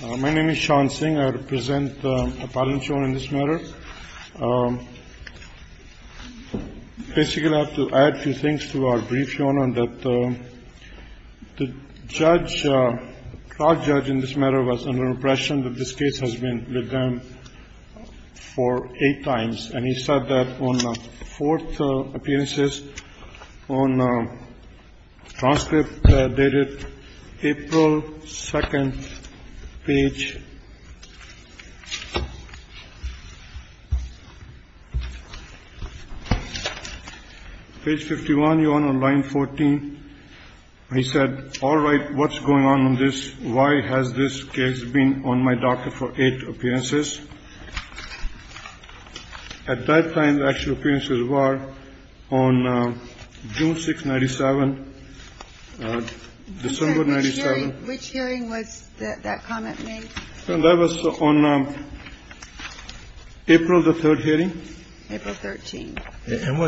My name is Sean Singh. I represent the appellant shown in this matter. Basically, I have to add a few things to our brief shown on that. The judge, the trial judge in this matter was under impression that this case has been with them for eight times. And he said that on the fourth appearances on transcript dated April 2nd, page. Page 51, you're on a line 14. He said, all right, what's going on in this? Why has this case been on my docket for eight appearances? At that time, the actual appearances were on June 6th, 97, December 97. Which hearing was that comment made? That was on April the 3rd hearing. April 13th. And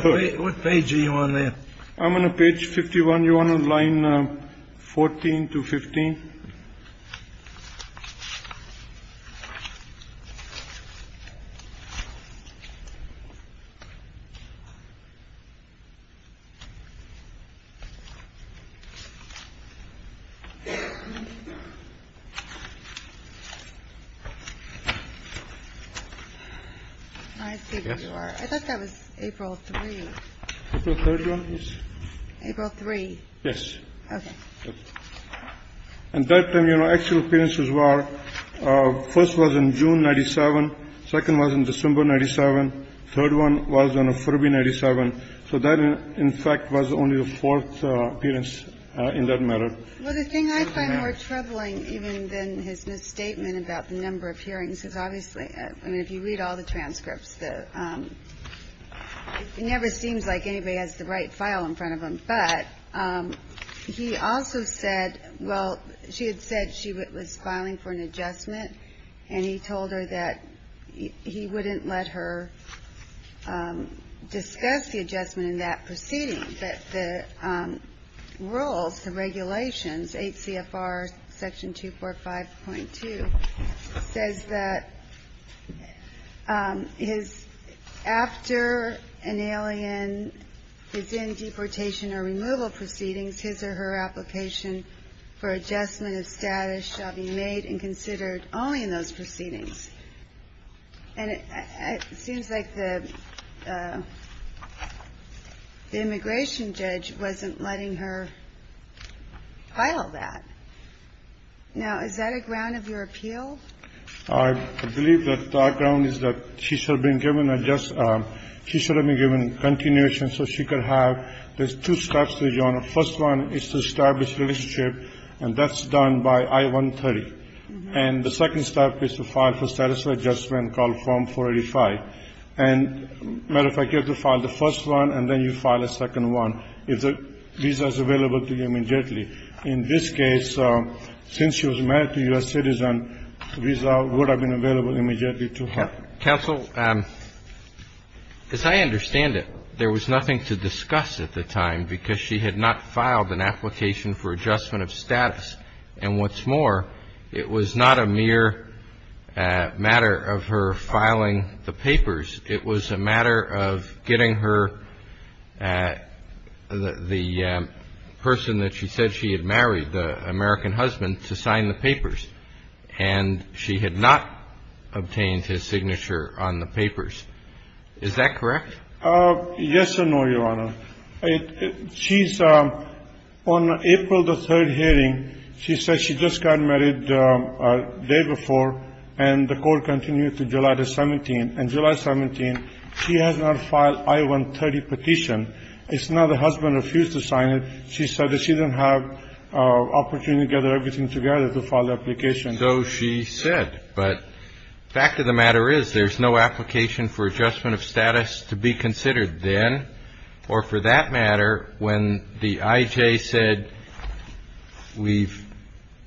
what page are you on there? I'm on page 51. You're on line 14 to 15. I see where you are. I thought that was April 3rd. April 3rd, yes. April 3rd? Yes. Okay. And that time, you know, actual appearances were first was on June 97, second was on December 97, third one was on February 97. So that, in fact, was only the fourth appearance in that matter. Well, the thing I find more troubling even than his misstatement about the number of hearings is obviously, I mean, if you read all the transcripts, it never seems like anybody has the right file in front of them. But he also said, well, she had said she was filing for an adjustment, and he told her that he wouldn't let her discuss the adjustment in that proceeding. But the rules, the regulations, 8 CFR section 245.2, says that after an alien is in deportation or removal proceedings, his or her application for adjustment of status shall be made and considered only in those proceedings. And it seems like the immigration judge wasn't letting her file that. Now, is that a ground of your appeal? I believe that our ground is that she should have been given a just ‑‑ she should have been given continuation so she could have. There's two steps, Your Honor. First one is to establish relationship, and that's done by I-130. And the second step is to file for status of adjustment called Form 485. And, matter of fact, you have to file the first one, and then you file a second one if the visa is available to you immediately. In this case, since she was married to a U.S. citizen, the visa would have been available immediately to her. Counsel, as I understand it, there was nothing to discuss at the time because she had not filed an application for adjustment of status. And what's more, it was not a mere matter of her filing the papers. It was a matter of getting her, the person that she said she had married, the American husband, to sign the papers. And she had not obtained his signature on the papers. Is that correct? Yes and no, Your Honor. She's on April the 3rd hearing. She said she just got married the day before, and the court continued to July the 17th. And July 17th, she has not filed I-130 petition. It's not the husband refused to sign it. She said that she didn't have opportunity to gather everything together to file the application. So she said. But fact of the matter is there's no application for adjustment of status to be considered then or for that matter when the IJ said we've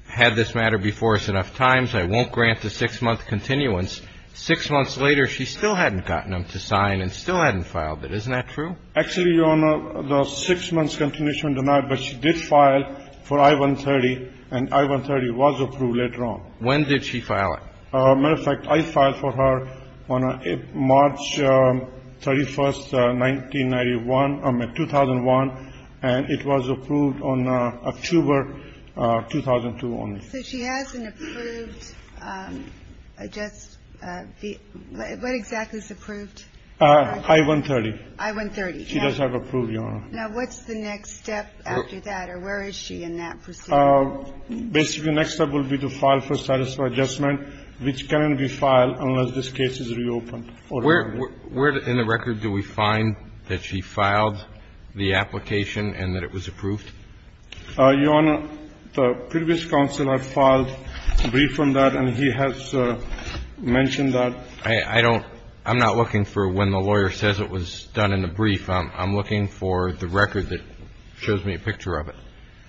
had this matter before us enough times. I won't grant the six-month continuance. Six months later, she still hadn't gotten him to sign and still hadn't filed it. Isn't that true? Actually, Your Honor, the six-month continuation denied, but she did file for I-130, and I-130 was approved later on. When did she file it? As a matter of fact, I filed for her on March 31st, 1991. I mean, 2001, and it was approved on October 2002 only. So she has an approved adjustment. What exactly is approved? I-130. I-130. She does have approved, Your Honor. Now, what's the next step after that, or where is she in that procedure? Basically, next step will be to file for status for adjustment, which cannot be filed unless this case is reopened. Where in the record do we find that she filed the application and that it was approved? Your Honor, the previous counsel had filed a brief on that, and he has mentioned that. I don't – I'm not looking for when the lawyer says it was done in the brief. I'm looking for the record that shows me a picture of it.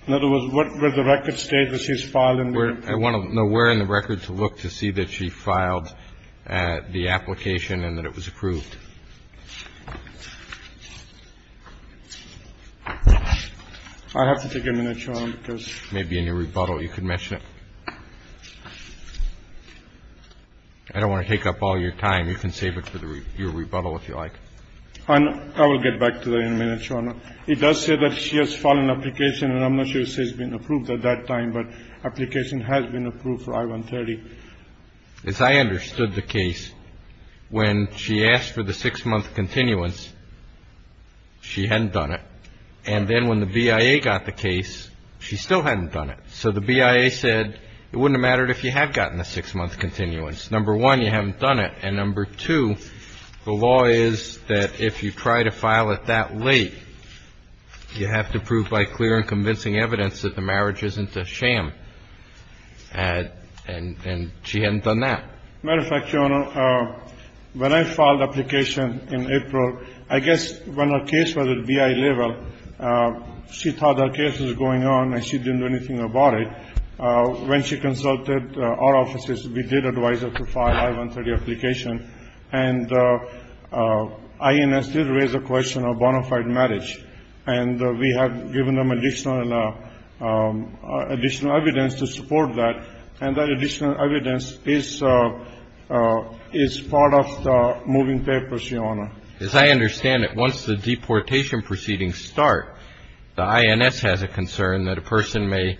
In other words, where the record states that she's filed in the brief. I want to know where in the record to look to see that she filed the application and that it was approved. I have to take a minute, Your Honor, because- It may be in your rebuttal. You can mention it. I don't want to take up all your time. You can save it for your rebuttal if you like. I will get back to that in a minute, Your Honor. It does say that she has filed an application, and I'm not sure it says been approved at that time, but application has been approved for I-130. As I understood the case, when she asked for the six-month continuance, she hadn't done it. And then when the BIA got the case, she still hadn't done it. So the BIA said it wouldn't have mattered if you had gotten the six-month continuance. Number one, you haven't done it. And number two, the law is that if you try to file it that late, you have to prove by clear and convincing evidence that the marriage isn't a sham. And she hadn't done that. As a matter of fact, Your Honor, when I filed the application in April, I guess when our case was at BIA level, she thought our case was going on and she didn't do anything about it. When she consulted our offices, we did advise her to file I-130 application. And INS did raise the question of bona fide marriage. And we have given them additional evidence to support that. And that additional evidence is part of the moving papers, Your Honor. As I understand it, once the deportation proceedings start, the INS has a concern that a person may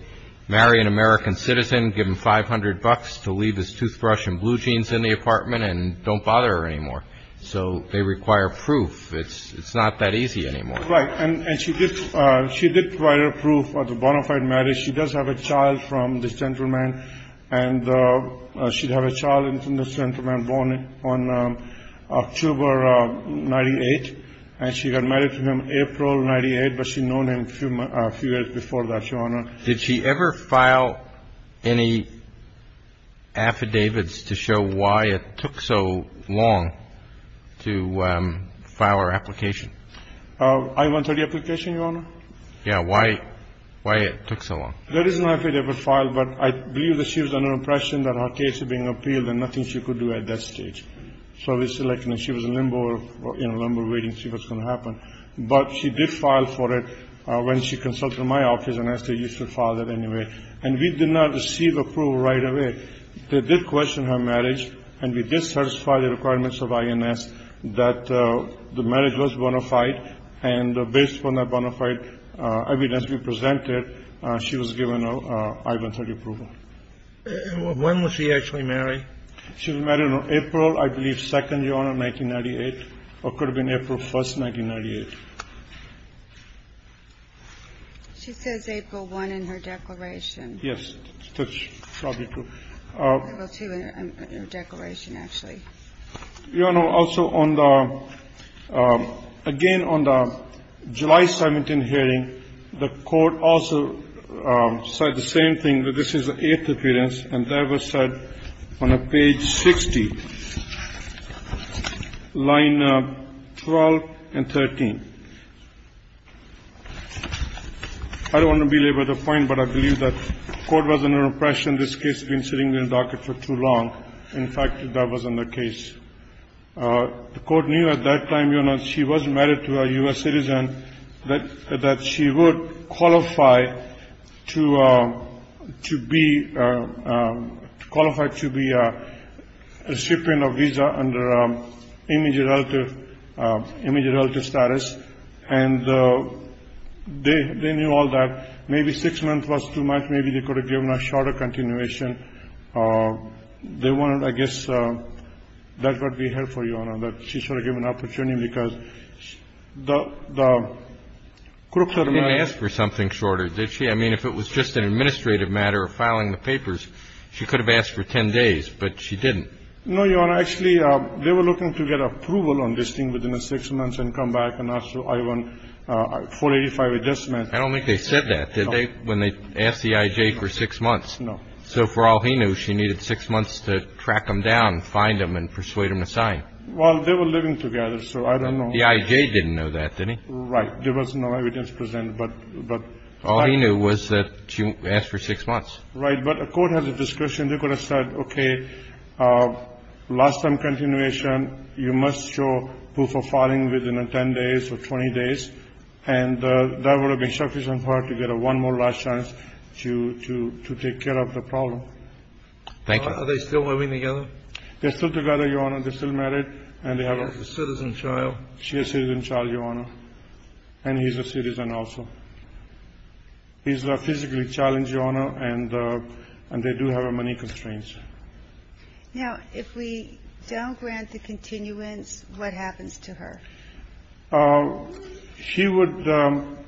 marry an American citizen, give him 500 bucks to leave his toothbrush and blue jeans in the apartment and don't bother her anymore. So they require proof. It's not that easy anymore. Right. And she did provide her proof of the bona fide marriage. She does have a child from the gentleman. And she'd have a child from the gentleman born on October 98. And she got married to him April 98, but she'd known him a few years before that, Your Honor. Did she ever file any affidavits to show why it took so long to file her application? I-130 application, Your Honor? Yeah. Why it took so long? There is an affidavit filed, but I believe that she was under the impression that her case was being appealed and nothing she could do at that stage. So we selected her. She was in limbo, in a limbo waiting to see what's going to happen. But she did file for it when she consulted my office, and I said you should file that anyway. And we did not receive approval right away. They did question her marriage, and we did satisfy the requirements of INS that the marriage was bona fide. And based on that bona fide evidence we presented, she was given I-130 approval. When was she actually married? She was married on April, I believe, 2nd, Your Honor, 1998, or could have been April 1st, 1998. She says April 1 in her declaration. Yes. April 2 in her declaration, actually. Your Honor, also on the – again, on the July 17 hearing, the Court also said the same thing, that this is the eighth appearance, and that was said on page 60, line 12 and 13. I don't want to belabor the point, but I believe that the Court was under the impression this case had been sitting in the docket for too long. In fact, that wasn't the case. The Court knew at that time, Your Honor, she was married to a U.S. citizen, that she would qualify to be a recipient of visa under immediate relative status. And they knew all that. Maybe six months was too much. Maybe they could have given a shorter continuation. They wanted, I guess, that's what we heard for you, Your Honor, that she should have given an opportunity because the – She didn't ask for something shorter, did she? I mean, if it was just an administrative matter of filing the papers, she could have asked for 10 days, but she didn't. No, Your Honor. Actually, they were looking to get approval on this thing within six months and come back and ask for I-185 adjustment. I don't think they said that, did they, when they asked the IJ for six months? No. So for all he knew, she needed six months to track him down, find him, and persuade him to sign. Well, they were living together, so I don't know. The IJ didn't know that, did he? Right. There was no evidence presented. All he knew was that she asked for six months. Right. But the court has a discretion. They could have said, okay, last-time continuation, you must show proof of filing within 10 days or 20 days, and that would have been sufficient for her to get one more last chance to take care of the problem. Thank you. Are they still living together? They're still together, Your Honor. They're still married, and they have a citizen child. She has a citizen child, Your Honor. And he's a citizen also. He's physically challenged, Your Honor, and they do have money constraints. Now, if we don't grant the continuance, what happens to her? She would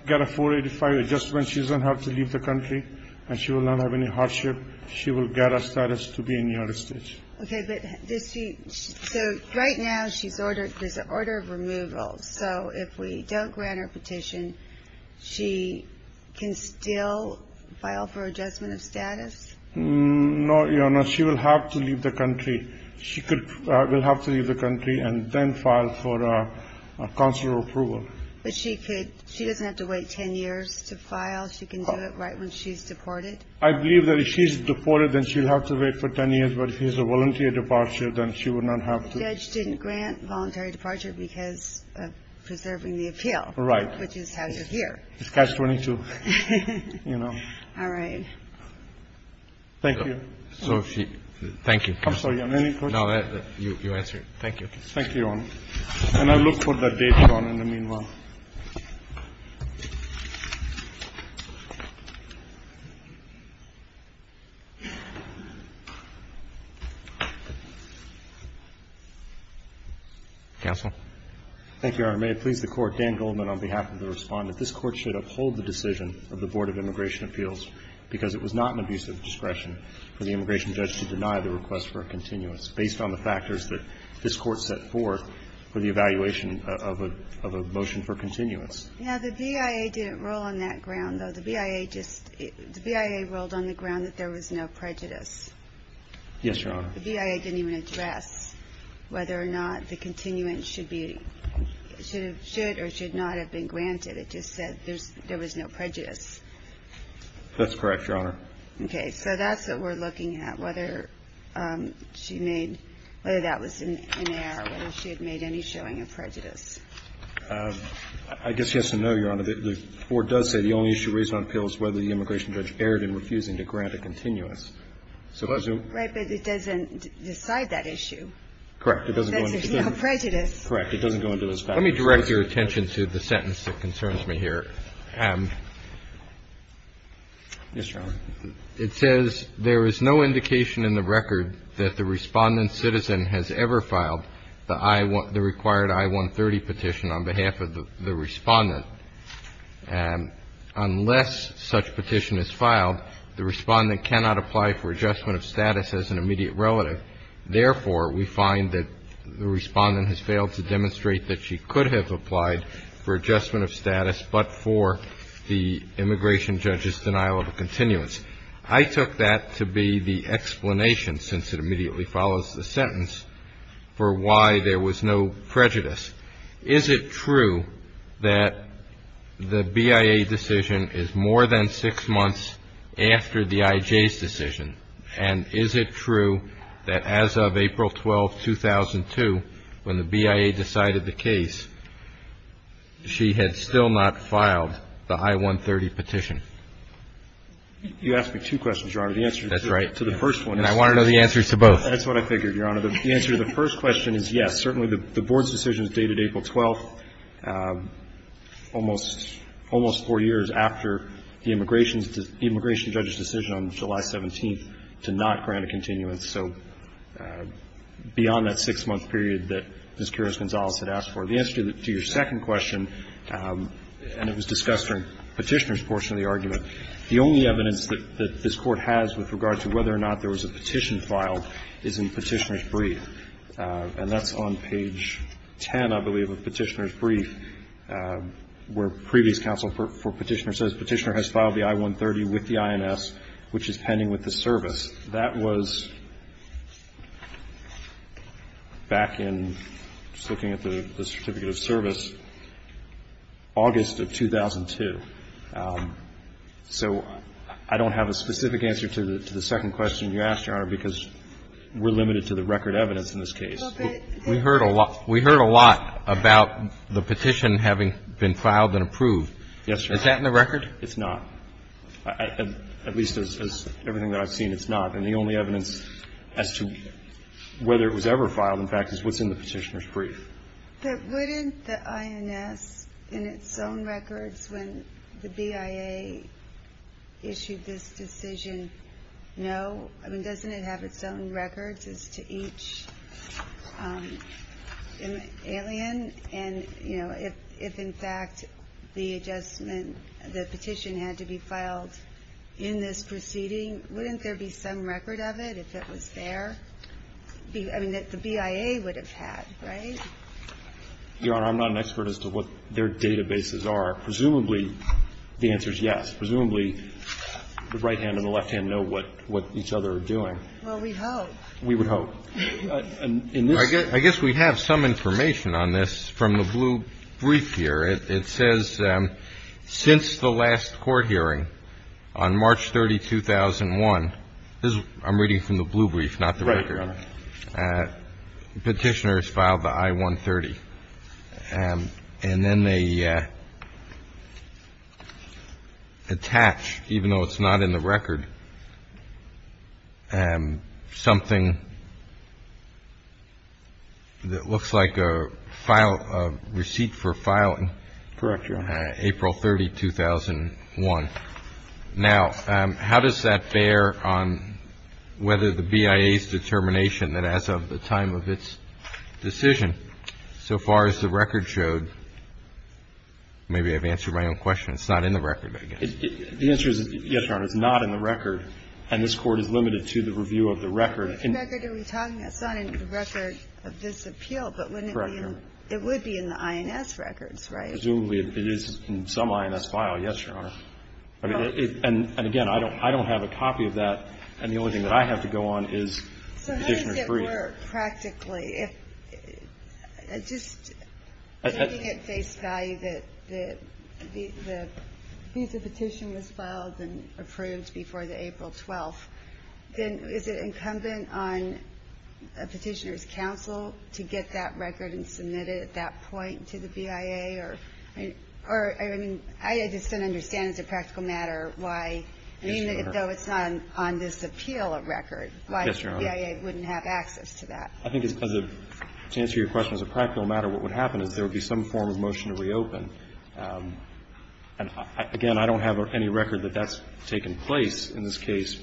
get a 485 adjustment. She doesn't have to leave the country, and she will not have any hardship. She will get a status to be in the United States. Okay, but does she – so right now, she's ordered – there's an order of removal. So if we don't grant her petition, she can still file for adjustment of status? No, Your Honor. She will have to leave the country. She will have to leave the country and then file for consular approval. But she could – she doesn't have to wait 10 years to file? She can do it right when she's deported? I believe that if she's deported, then she'll have to wait for 10 years. But if she has a voluntary departure, then she would not have to. The judge didn't grant voluntary departure because of preserving the appeal. Right. Which is how you're here. It's catch-22, you know. All right. Thank you. Thank you. Any questions? No, you answered. Thank you. Thank you, Your Honor. And I'll look for the date, Your Honor, in the meanwhile. Counsel? Thank you, Your Honor. May it please the Court, Dan Goldman on behalf of the Respondent. This Court should uphold the decision of the Board of Immigration Appeals because it was not an abuse of discretion for the immigration judge to deny the request for a continuous based on the factors that this Court set forth for the evaluation of a motion for a continuous. Yeah, the BIA didn't roll on that ground, though. The BIA just rolled on the ground that there was no prejudice. Yes, Your Honor. The BIA didn't even address whether or not the continuance should or should not have been granted. It just said there was no prejudice. That's correct, Your Honor. Okay. So that's what we're looking at, whether she made – whether that was in error, whether she had made any showing of prejudice. I guess she has to know, Your Honor, that the Board does say the only issue raised on appeal is whether the immigration judge erred in refusing to grant a continuous. Right. But it doesn't decide that issue. Correct. It doesn't go into the – That there's no prejudice. Correct. It doesn't go into those factors. Let me direct your attention to the sentence that concerns me here. Yes, Your Honor. It says there is no indication in the record that the Respondent's citizen has ever filed the I – the required I-130 petition on behalf of the Respondent. Unless such petition is filed, the Respondent cannot apply for adjustment of status as an immediate relative. Therefore, we find that the Respondent has failed to demonstrate that she could have applied for adjustment of status but for the immigration judge's denial of a continuance. I took that to be the explanation, since it immediately follows the sentence, for why there was no prejudice. Is it true that the BIA decision is more than six months after the IJ's decision? And is it true that as of April 12, 2002, when the BIA decided the case, she had still not filed the I-130 petition? You asked me two questions, Your Honor. The answer to the first one is – That's right. And I want to know the answers to both. That's what I figured, Your Honor. The answer to the first question is yes. Certainly the Board's decision is dated April 12, almost four years after the immigration judge's decision on July 17th to not grant a continuance, so beyond that six-month period that Ms. Kiros-Gonzalez had asked for. The answer to your second question, and it was discussed during Petitioner's portion of the argument, the only evidence that this Court has with regard to whether or not there was a petition filed is in Petitioner's brief. And that's on page 10, I believe, of Petitioner's brief, where previous counsel for Petitioner says Petitioner has filed the I-130 with the INS, which is pending with the service. That was back in, just looking at the certificate of service, August of 2002. So I don't have a specific answer to the second question you asked, Your Honor, because we're limited to the record evidence in this case. We heard a lot about the petition having been filed and approved. Yes, Your Honor. Is that in the record? It's not. At least as everything that I've seen, it's not. And the only evidence as to whether it was ever filed, in fact, is what's in the Petitioner's brief. But wouldn't the INS, in its own records when the BIA issued this decision, know? I mean, doesn't it have its own records as to each alien? And, you know, if, in fact, the adjustment, the petition had to be filed in this proceeding, wouldn't there be some record of it if it was there? I mean, that the BIA would have had, right? Your Honor, I'm not an expert as to what their databases are. Presumably, the answer is yes. Presumably, the right hand and the left hand know what each other are doing. Well, we hope. We would hope. I guess we have some information on this from the blue brief here. It says, since the last court hearing on March 30, 2001, this is what I'm reading from the blue brief, not the record. Right, Your Honor. Petitioners filed the I-130, and then they attach, even though it's not in the record, something that looks like a receipt for filing. Correct, Your Honor. April 30, 2001. Now, how does that bear on whether the BIA's determination that as of the time of its decision, so far as the record showed, maybe I've answered my own question. It's not in the record, I guess. The answer is yes, Your Honor. It's not in the record. And this Court is limited to the review of the record. Which record are we talking? It's not in the record of this appeal. Correct, Your Honor. But it would be in the INS records, right? Presumably, it is in some INS file. Yes, Your Honor. And, again, I don't have a copy of that. And the only thing that I have to go on is the petitioner's brief. So how does it work practically? Just taking at face value that the visa petition was filed and approved before the April 12th, then is it incumbent on a petitioner's counsel to get that record and submit it at that point to the BIA? Or, I mean, I just don't understand as a practical matter why, even though it's not on this appeal of record, why BIA wouldn't have access to that. Yes, Your Honor. I think to answer your question as a practical matter, what would happen is there would be some form of motion to reopen. And, again, I don't have any record that that's taken place in this case.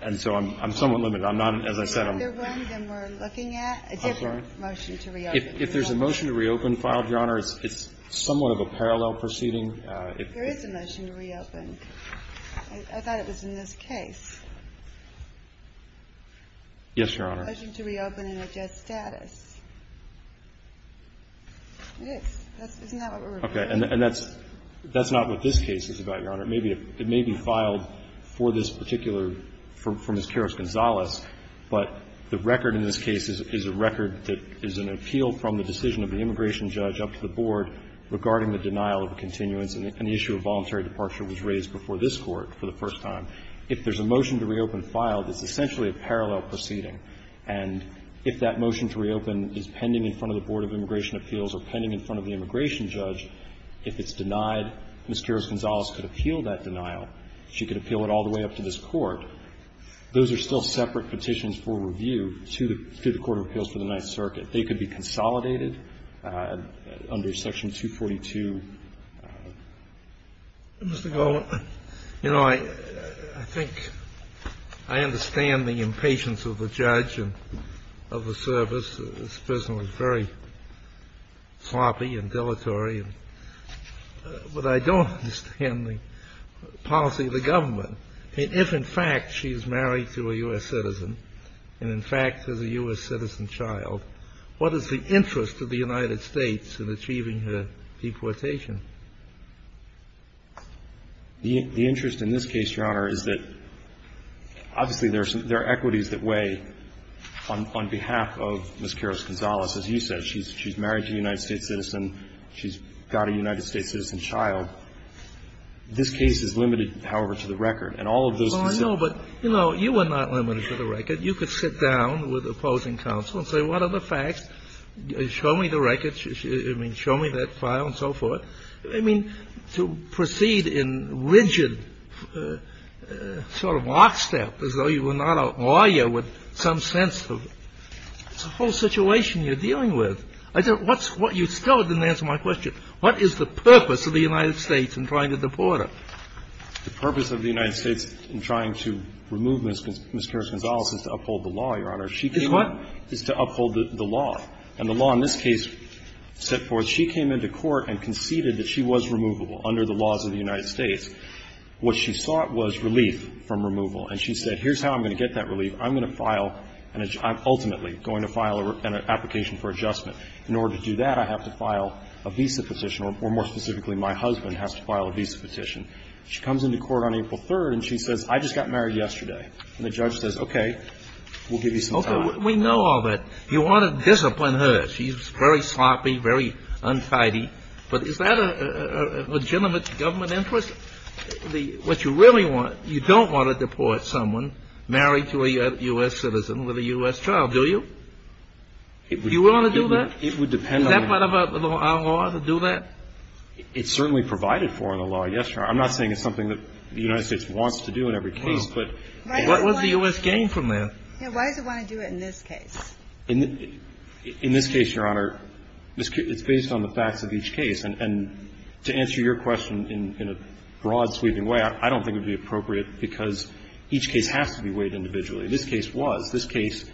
And so I'm somewhat limited. I'm not, as I said, I'm not. Is there another one that we're looking at? I'm sorry? A different motion to reopen. If there's a motion to reopen filed, Your Honor, it's somewhat of a parallel proceeding. There is a motion to reopen. I thought it was in this case. Yes, Your Honor. A motion to reopen in a just status. It is. Isn't that what we're referring to? Okay. And that's not what this case is about, Your Honor. It may be filed for this particular, for Ms. Karos-Gonzalez, but the record in this case is a record that is an appeal from the decision of the immigration judge up to the court of appeals for the Ninth Circuit. And so, if there's a motion to reopen filed, it's essentially a parallel proceeding. And if that motion to reopen is pending in front of the board of immigration appeals or pending in front of the immigration judge, if it's denied, Ms. Karos-Gonzalez could appeal that denial. She could appeal it all the way up to this Court. Those are still separate petitions for review to the court of appeals for the Ninth Circuit. They could be consolidated under Section 242. Mr. Goldman, you know, I think I understand the impatience of the judge and of the service. It's personally very sloppy and dilatory. But I don't understand the policy of the government. If, in fact, she's married to a U.S. citizen and, in fact, has a U.S. citizen child, what is the interest of the United States in achieving her deportation? The interest in this case, Your Honor, is that, obviously, there are equities that weigh on behalf of Ms. Karos-Gonzalez. As you said, she's married to a United States citizen. She's got a United States citizen child. This case is limited, however, to the record. And all of those specific ---- Well, I know. But, you know, you are not limited to the record. You could sit down with opposing counsel and say, what are the facts? Show me the record. I mean, show me that file and so forth. I mean, to proceed in rigid sort of lockstep, as though you were not a lawyer with some sense of the whole situation you're dealing with. I don't ---- What's ---- You still didn't answer my question. What is the purpose of the United States in trying to deport her? The purpose of the United States in trying to remove Ms. Karos-Gonzalez is to uphold the law, Your Honor. Is what? Is to uphold the law. And the law in this case set forth she came into court and conceded that she was removable under the laws of the United States. What she sought was relief from removal. And she said, here's how I'm going to get that relief. I'm going to file an ---- I'm ultimately going to file an application for adjustment. In order to do that, I have to file a visa petition, or more specifically, my husband has to file a visa petition. She comes into court on April 3rd, and she says, I just got married yesterday. And the judge says, okay, we'll give you some time. Okay. We know all that. You want to discipline her. She's very sloppy, very untidy. But is that a legitimate government interest? What you really want, you don't want to deport someone married to a U.S. citizen with a U.S. child, do you? Do you want to do that? It would depend on the ---- Is that part of our law to do that? It's certainly provided for in the law. Yes, Your Honor. I'm not saying it's something that the United States wants to do in every case, but ---- What was the U.S. gain from that? Why does it want to do it in this case? In this case, Your Honor, it's based on the facts of each case. And to answer your question in a broad-sweeping way, I don't think it would be appropriate because each case has to be weighed individually. This case was. This case,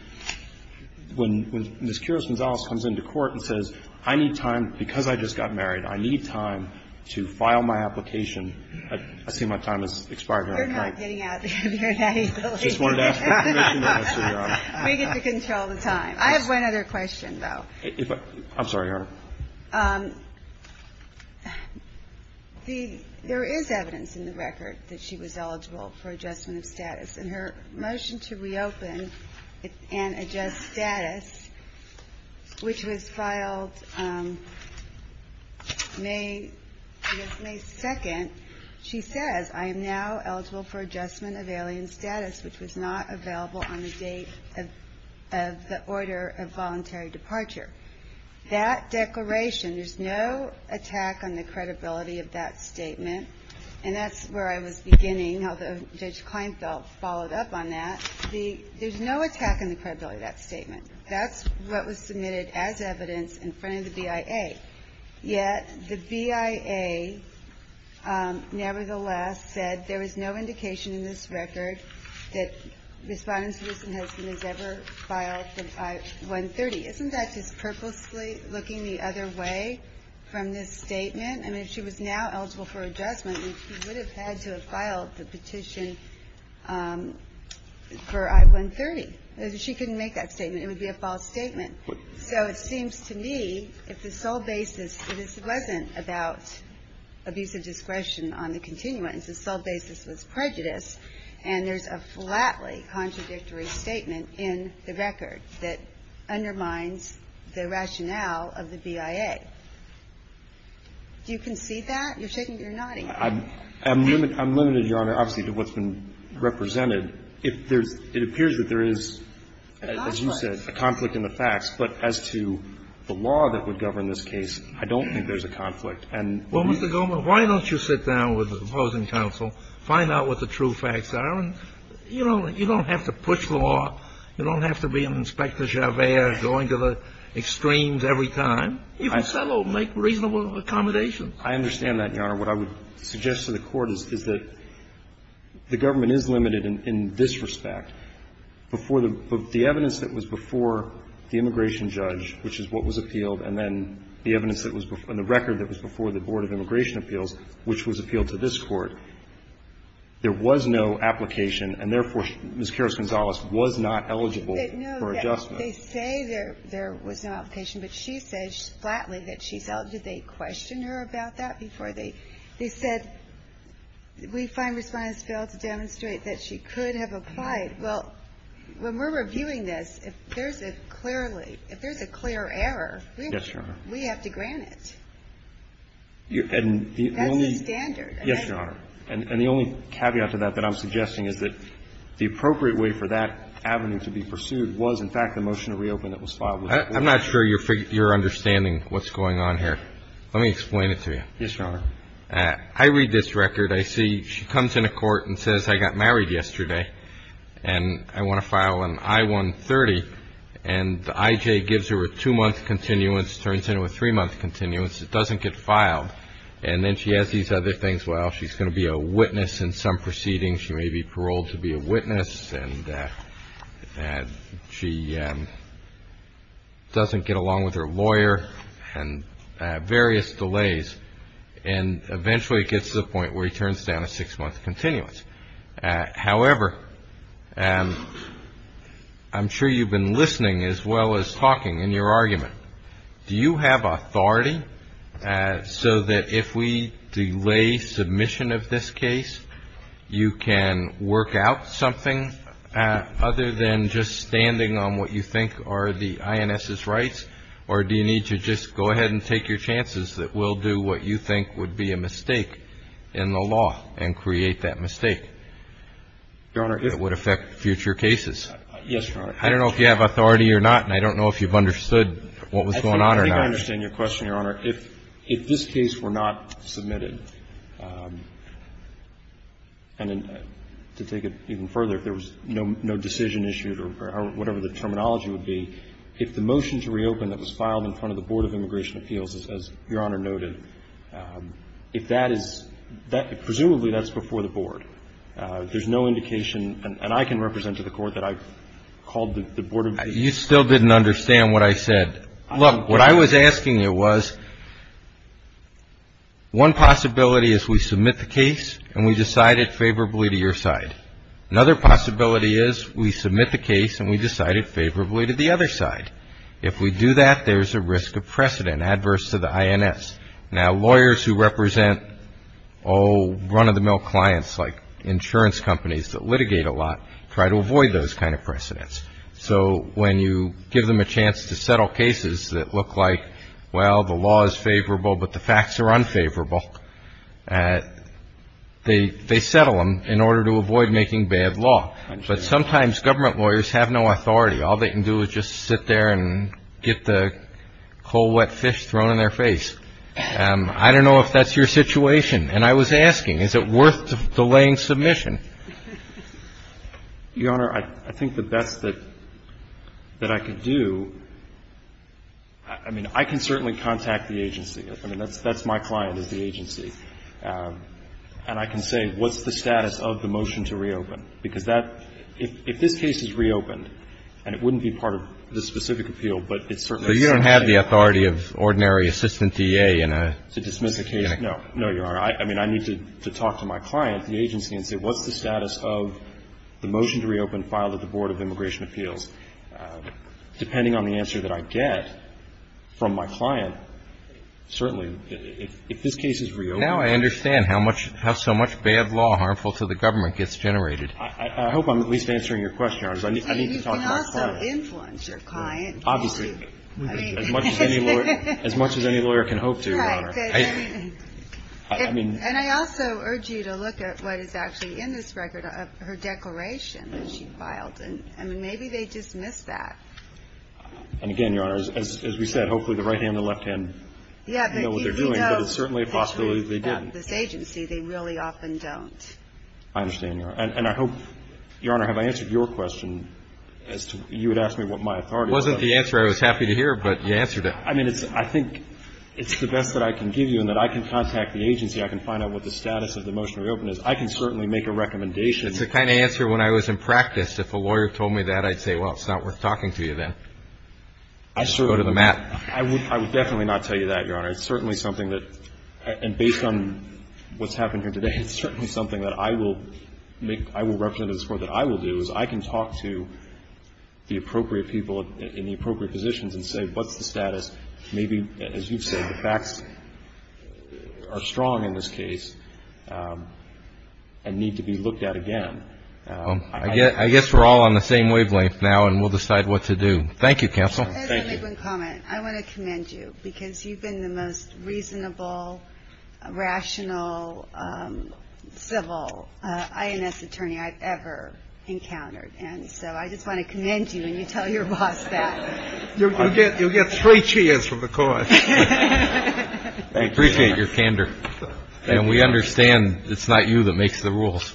when Ms. Kiros-Gonzalez comes into court and says, I need time because I just got married, I need time to file my application, I see my time has expired here. You're not getting out of here that easily. I just wanted to ask for permission to answer, Your Honor. We get to control the time. I have one other question, though. I'm sorry, Your Honor. The ---- there is evidence in the record that she was eligible for adjustment of status. In her motion to reopen and adjust status, which was filed May ---- it was May 2nd, she says, I am now eligible for adjustment of alien status, which was not available on the date of the order of voluntary departure. That declaration, there's no attack on the credibility of that statement, and that's where I was beginning, how Judge Kleinfeld followed up on that. The ---- there's no attack on the credibility of that statement. That's what was submitted as evidence in front of the BIA. Yet the BIA, nevertheless, said there is no indication in this record that Respondent Citizen has ever filed the I-130. Isn't that just purposely looking the other way from this statement? I mean, if she was now eligible for adjustment, she would have had to have filed the petition for I-130. She couldn't make that statement. It would be a false statement. So it seems to me if the sole basis ---- this wasn't about abuse of discretion on the continuance. The sole basis was prejudice, and there's a flatly contradictory statement in the record that undermines the rationale of the BIA. Do you concede that? You're nodding. I'm limited, Your Honor, obviously, to what's been represented. If there's ---- it appears that there is, as you said, a conflict in the facts. But as to the law that would govern this case, I don't think there's a conflict. And ---- Well, Mr. Goldman, why don't you sit down with the opposing counsel, find out what the true facts are. You don't have to push the law. You don't have to be an Inspector Javert going to the extremes every time. You can settle, make reasonable accommodations. I understand that, Your Honor. What I would suggest to the Court is that the government is limited in this respect. Before the ---- the evidence that was before the immigration judge, which is what was appealed, and then the evidence that was before ---- and the record that was before the Board of Immigration Appeals, which was appealed to this Court, there was no application, and therefore, Ms. Karras-Gonzalez was not eligible for adjustment. They say there was no application, but she says flatly that she's eligible. They question her about that before they ---- they said, we find Respondents failed to demonstrate that she could have applied. Well, when we're reviewing this, if there's a clearly ---- if there's a clear error, we have to grant it. Yes, Your Honor. That's the standard. Yes, Your Honor. And the only caveat to that that I'm suggesting is that the appropriate way for that avenue to be pursued was, in fact, the motion to reopen that was filed with the Board. I'm not sure you're understanding what's going on here. Let me explain it to you. Yes, Your Honor. I read this record. I see she comes into court and says, I got married yesterday, and I want to file an I-130. And the IJ gives her a two-month continuance, turns it into a three-month continuance. It doesn't get filed. And then she has these other things. Well, she's going to be a witness in some proceedings. She may be paroled to be a witness, and she doesn't get along with her lawyer, and various delays. And eventually it gets to the point where he turns down a six-month continuance. However, I'm sure you've been listening as well as talking in your argument. Do you have authority so that if we delay submission of this case, you can work out something other than just standing on what you think are the INS's rights? Or do you need to just go ahead and take your chances that we'll do what you think would be a mistake in the law and create that mistake that would affect future cases? Yes, Your Honor. I don't know if you have authority or not, and I don't know if you've understood what was going on or not. I think I understand your question, Your Honor. If this case were not submitted, and to take it even further, if there was no decision issued or whatever the terminology would be, if the motion to reopen that was filed in front of the Board of Immigration Appeals, as Your Honor noted, if that is – presumably that's before the Board. There's no indication – and I can represent to the Court that I've called the Board of – You still didn't understand what I said. Look, what I was asking you was one possibility is we submit the case and we decide it favorably to your side. Another possibility is we submit the case and we decide it favorably to the other side. If we do that, there's a risk of precedent adverse to the INS. Now, lawyers who represent all run-of-the-mill clients like insurance companies that litigate a lot try to avoid those kind of precedents. So when you give them a chance to settle cases that look like, well, the law is favorable, but the facts are unfavorable, they settle them in order to avoid making bad law. But sometimes government lawyers have no authority. All they can do is just sit there and get the cold, wet fish thrown in their face. I don't know if that's your situation. And I was asking, is it worth delaying submission? Your Honor, I think the best that I could do – I mean, I can certainly contact the agency. I mean, that's my client is the agency. And I can say, what's the status of the motion to reopen? Because that – if this case is reopened, and it wouldn't be part of the specific appeal, but it's certainly a decision. So you don't have the authority of ordinary assistant DA in a – To dismiss the case? No. No, Your Honor. I mean, I need to talk to my client, the agency, and say, what's the status of the motion to reopen filed at the Board of Immigration Appeals? Depending on the answer that I get from my client, certainly, if this case is reopened – I hope I'm at least answering your question, Your Honor. I need to talk to my client. You can also influence your client. Obviously. I mean – As much as any lawyer can hope to, Your Honor. Right. I mean – And I also urge you to look at what is actually in this record of her declaration that she filed. I mean, maybe they dismissed that. And again, Your Honor, as we said, hopefully the right hand and the left hand know what they're doing. Yeah, but if you know about this agency, they really often don't. I understand, Your Honor. And I hope, Your Honor, have I answered your question as to – you had asked me what my authority was. It wasn't the answer I was happy to hear, but you answered it. I mean, it's – I think it's the best that I can give you in that I can contact the agency. I can find out what the status of the motion to reopen is. I can certainly make a recommendation. It's the kind of answer when I was in practice, if a lawyer told me that, I'd say, well, it's not worth talking to you then. I certainly – Go to the mat. I would definitely not tell you that, Your Honor. It's certainly something that – and based on what's happened here today, it's certainly something that I will make – I will represent as for that I will do, is I can talk to the appropriate people in the appropriate positions and say, what's the status? Maybe, as you've said, the facts are strong in this case and need to be looked at again. I guess we're all on the same wavelength now, and we'll decide what to do. Thank you, counsel. Thank you. Let me make one comment. I want to commend you because you've been the most reasonable, rational, civil INS attorney I've ever encountered. And so I just want to commend you when you tell your boss that. You'll get three cheers from the court. I appreciate your candor. And we understand it's not you that makes the rules.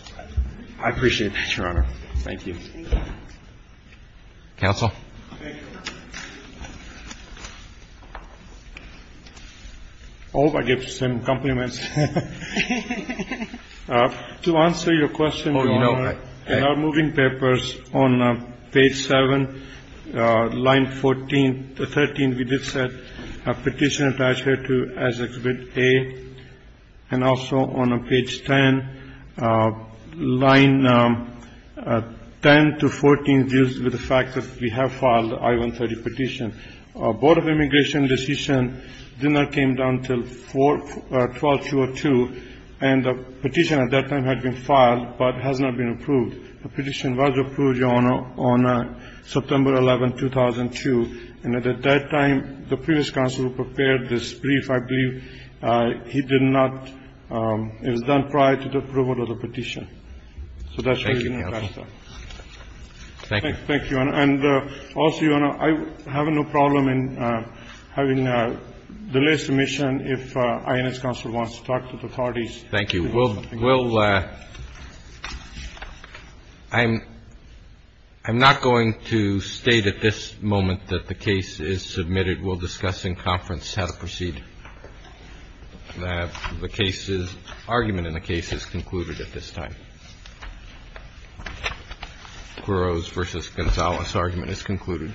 I appreciate that, Your Honor. Thank you. Thank you. Counsel? Thank you, Your Honor. Oh, I get some compliments. To answer your question, Your Honor, in our moving papers on page 7, line 14 to 13, we did set a petition attached here as exhibit A. And also on page 10, line 10 to 14 deals with the fact that we have filed the I-130 petition. Board of Immigration decision did not come down until 12-02, and the petition at that time had been filed but has not been approved. The petition was approved, Your Honor, on September 11, 2002. And at that time, the previous counsel who prepared this brief, I believe he did not It was done prior to the approval of the petition. Thank you, counsel. Thank you. Thank you. And also, Your Honor, I have no problem in having the last submission if INS counsel wants to talk to the authorities. Thank you. Well, I'm not going to state at this moment that the case is submitted. We'll discuss in conference how to proceed. The argument in the case is concluded at this time. Quiroz v. Gonzales' argument is concluded.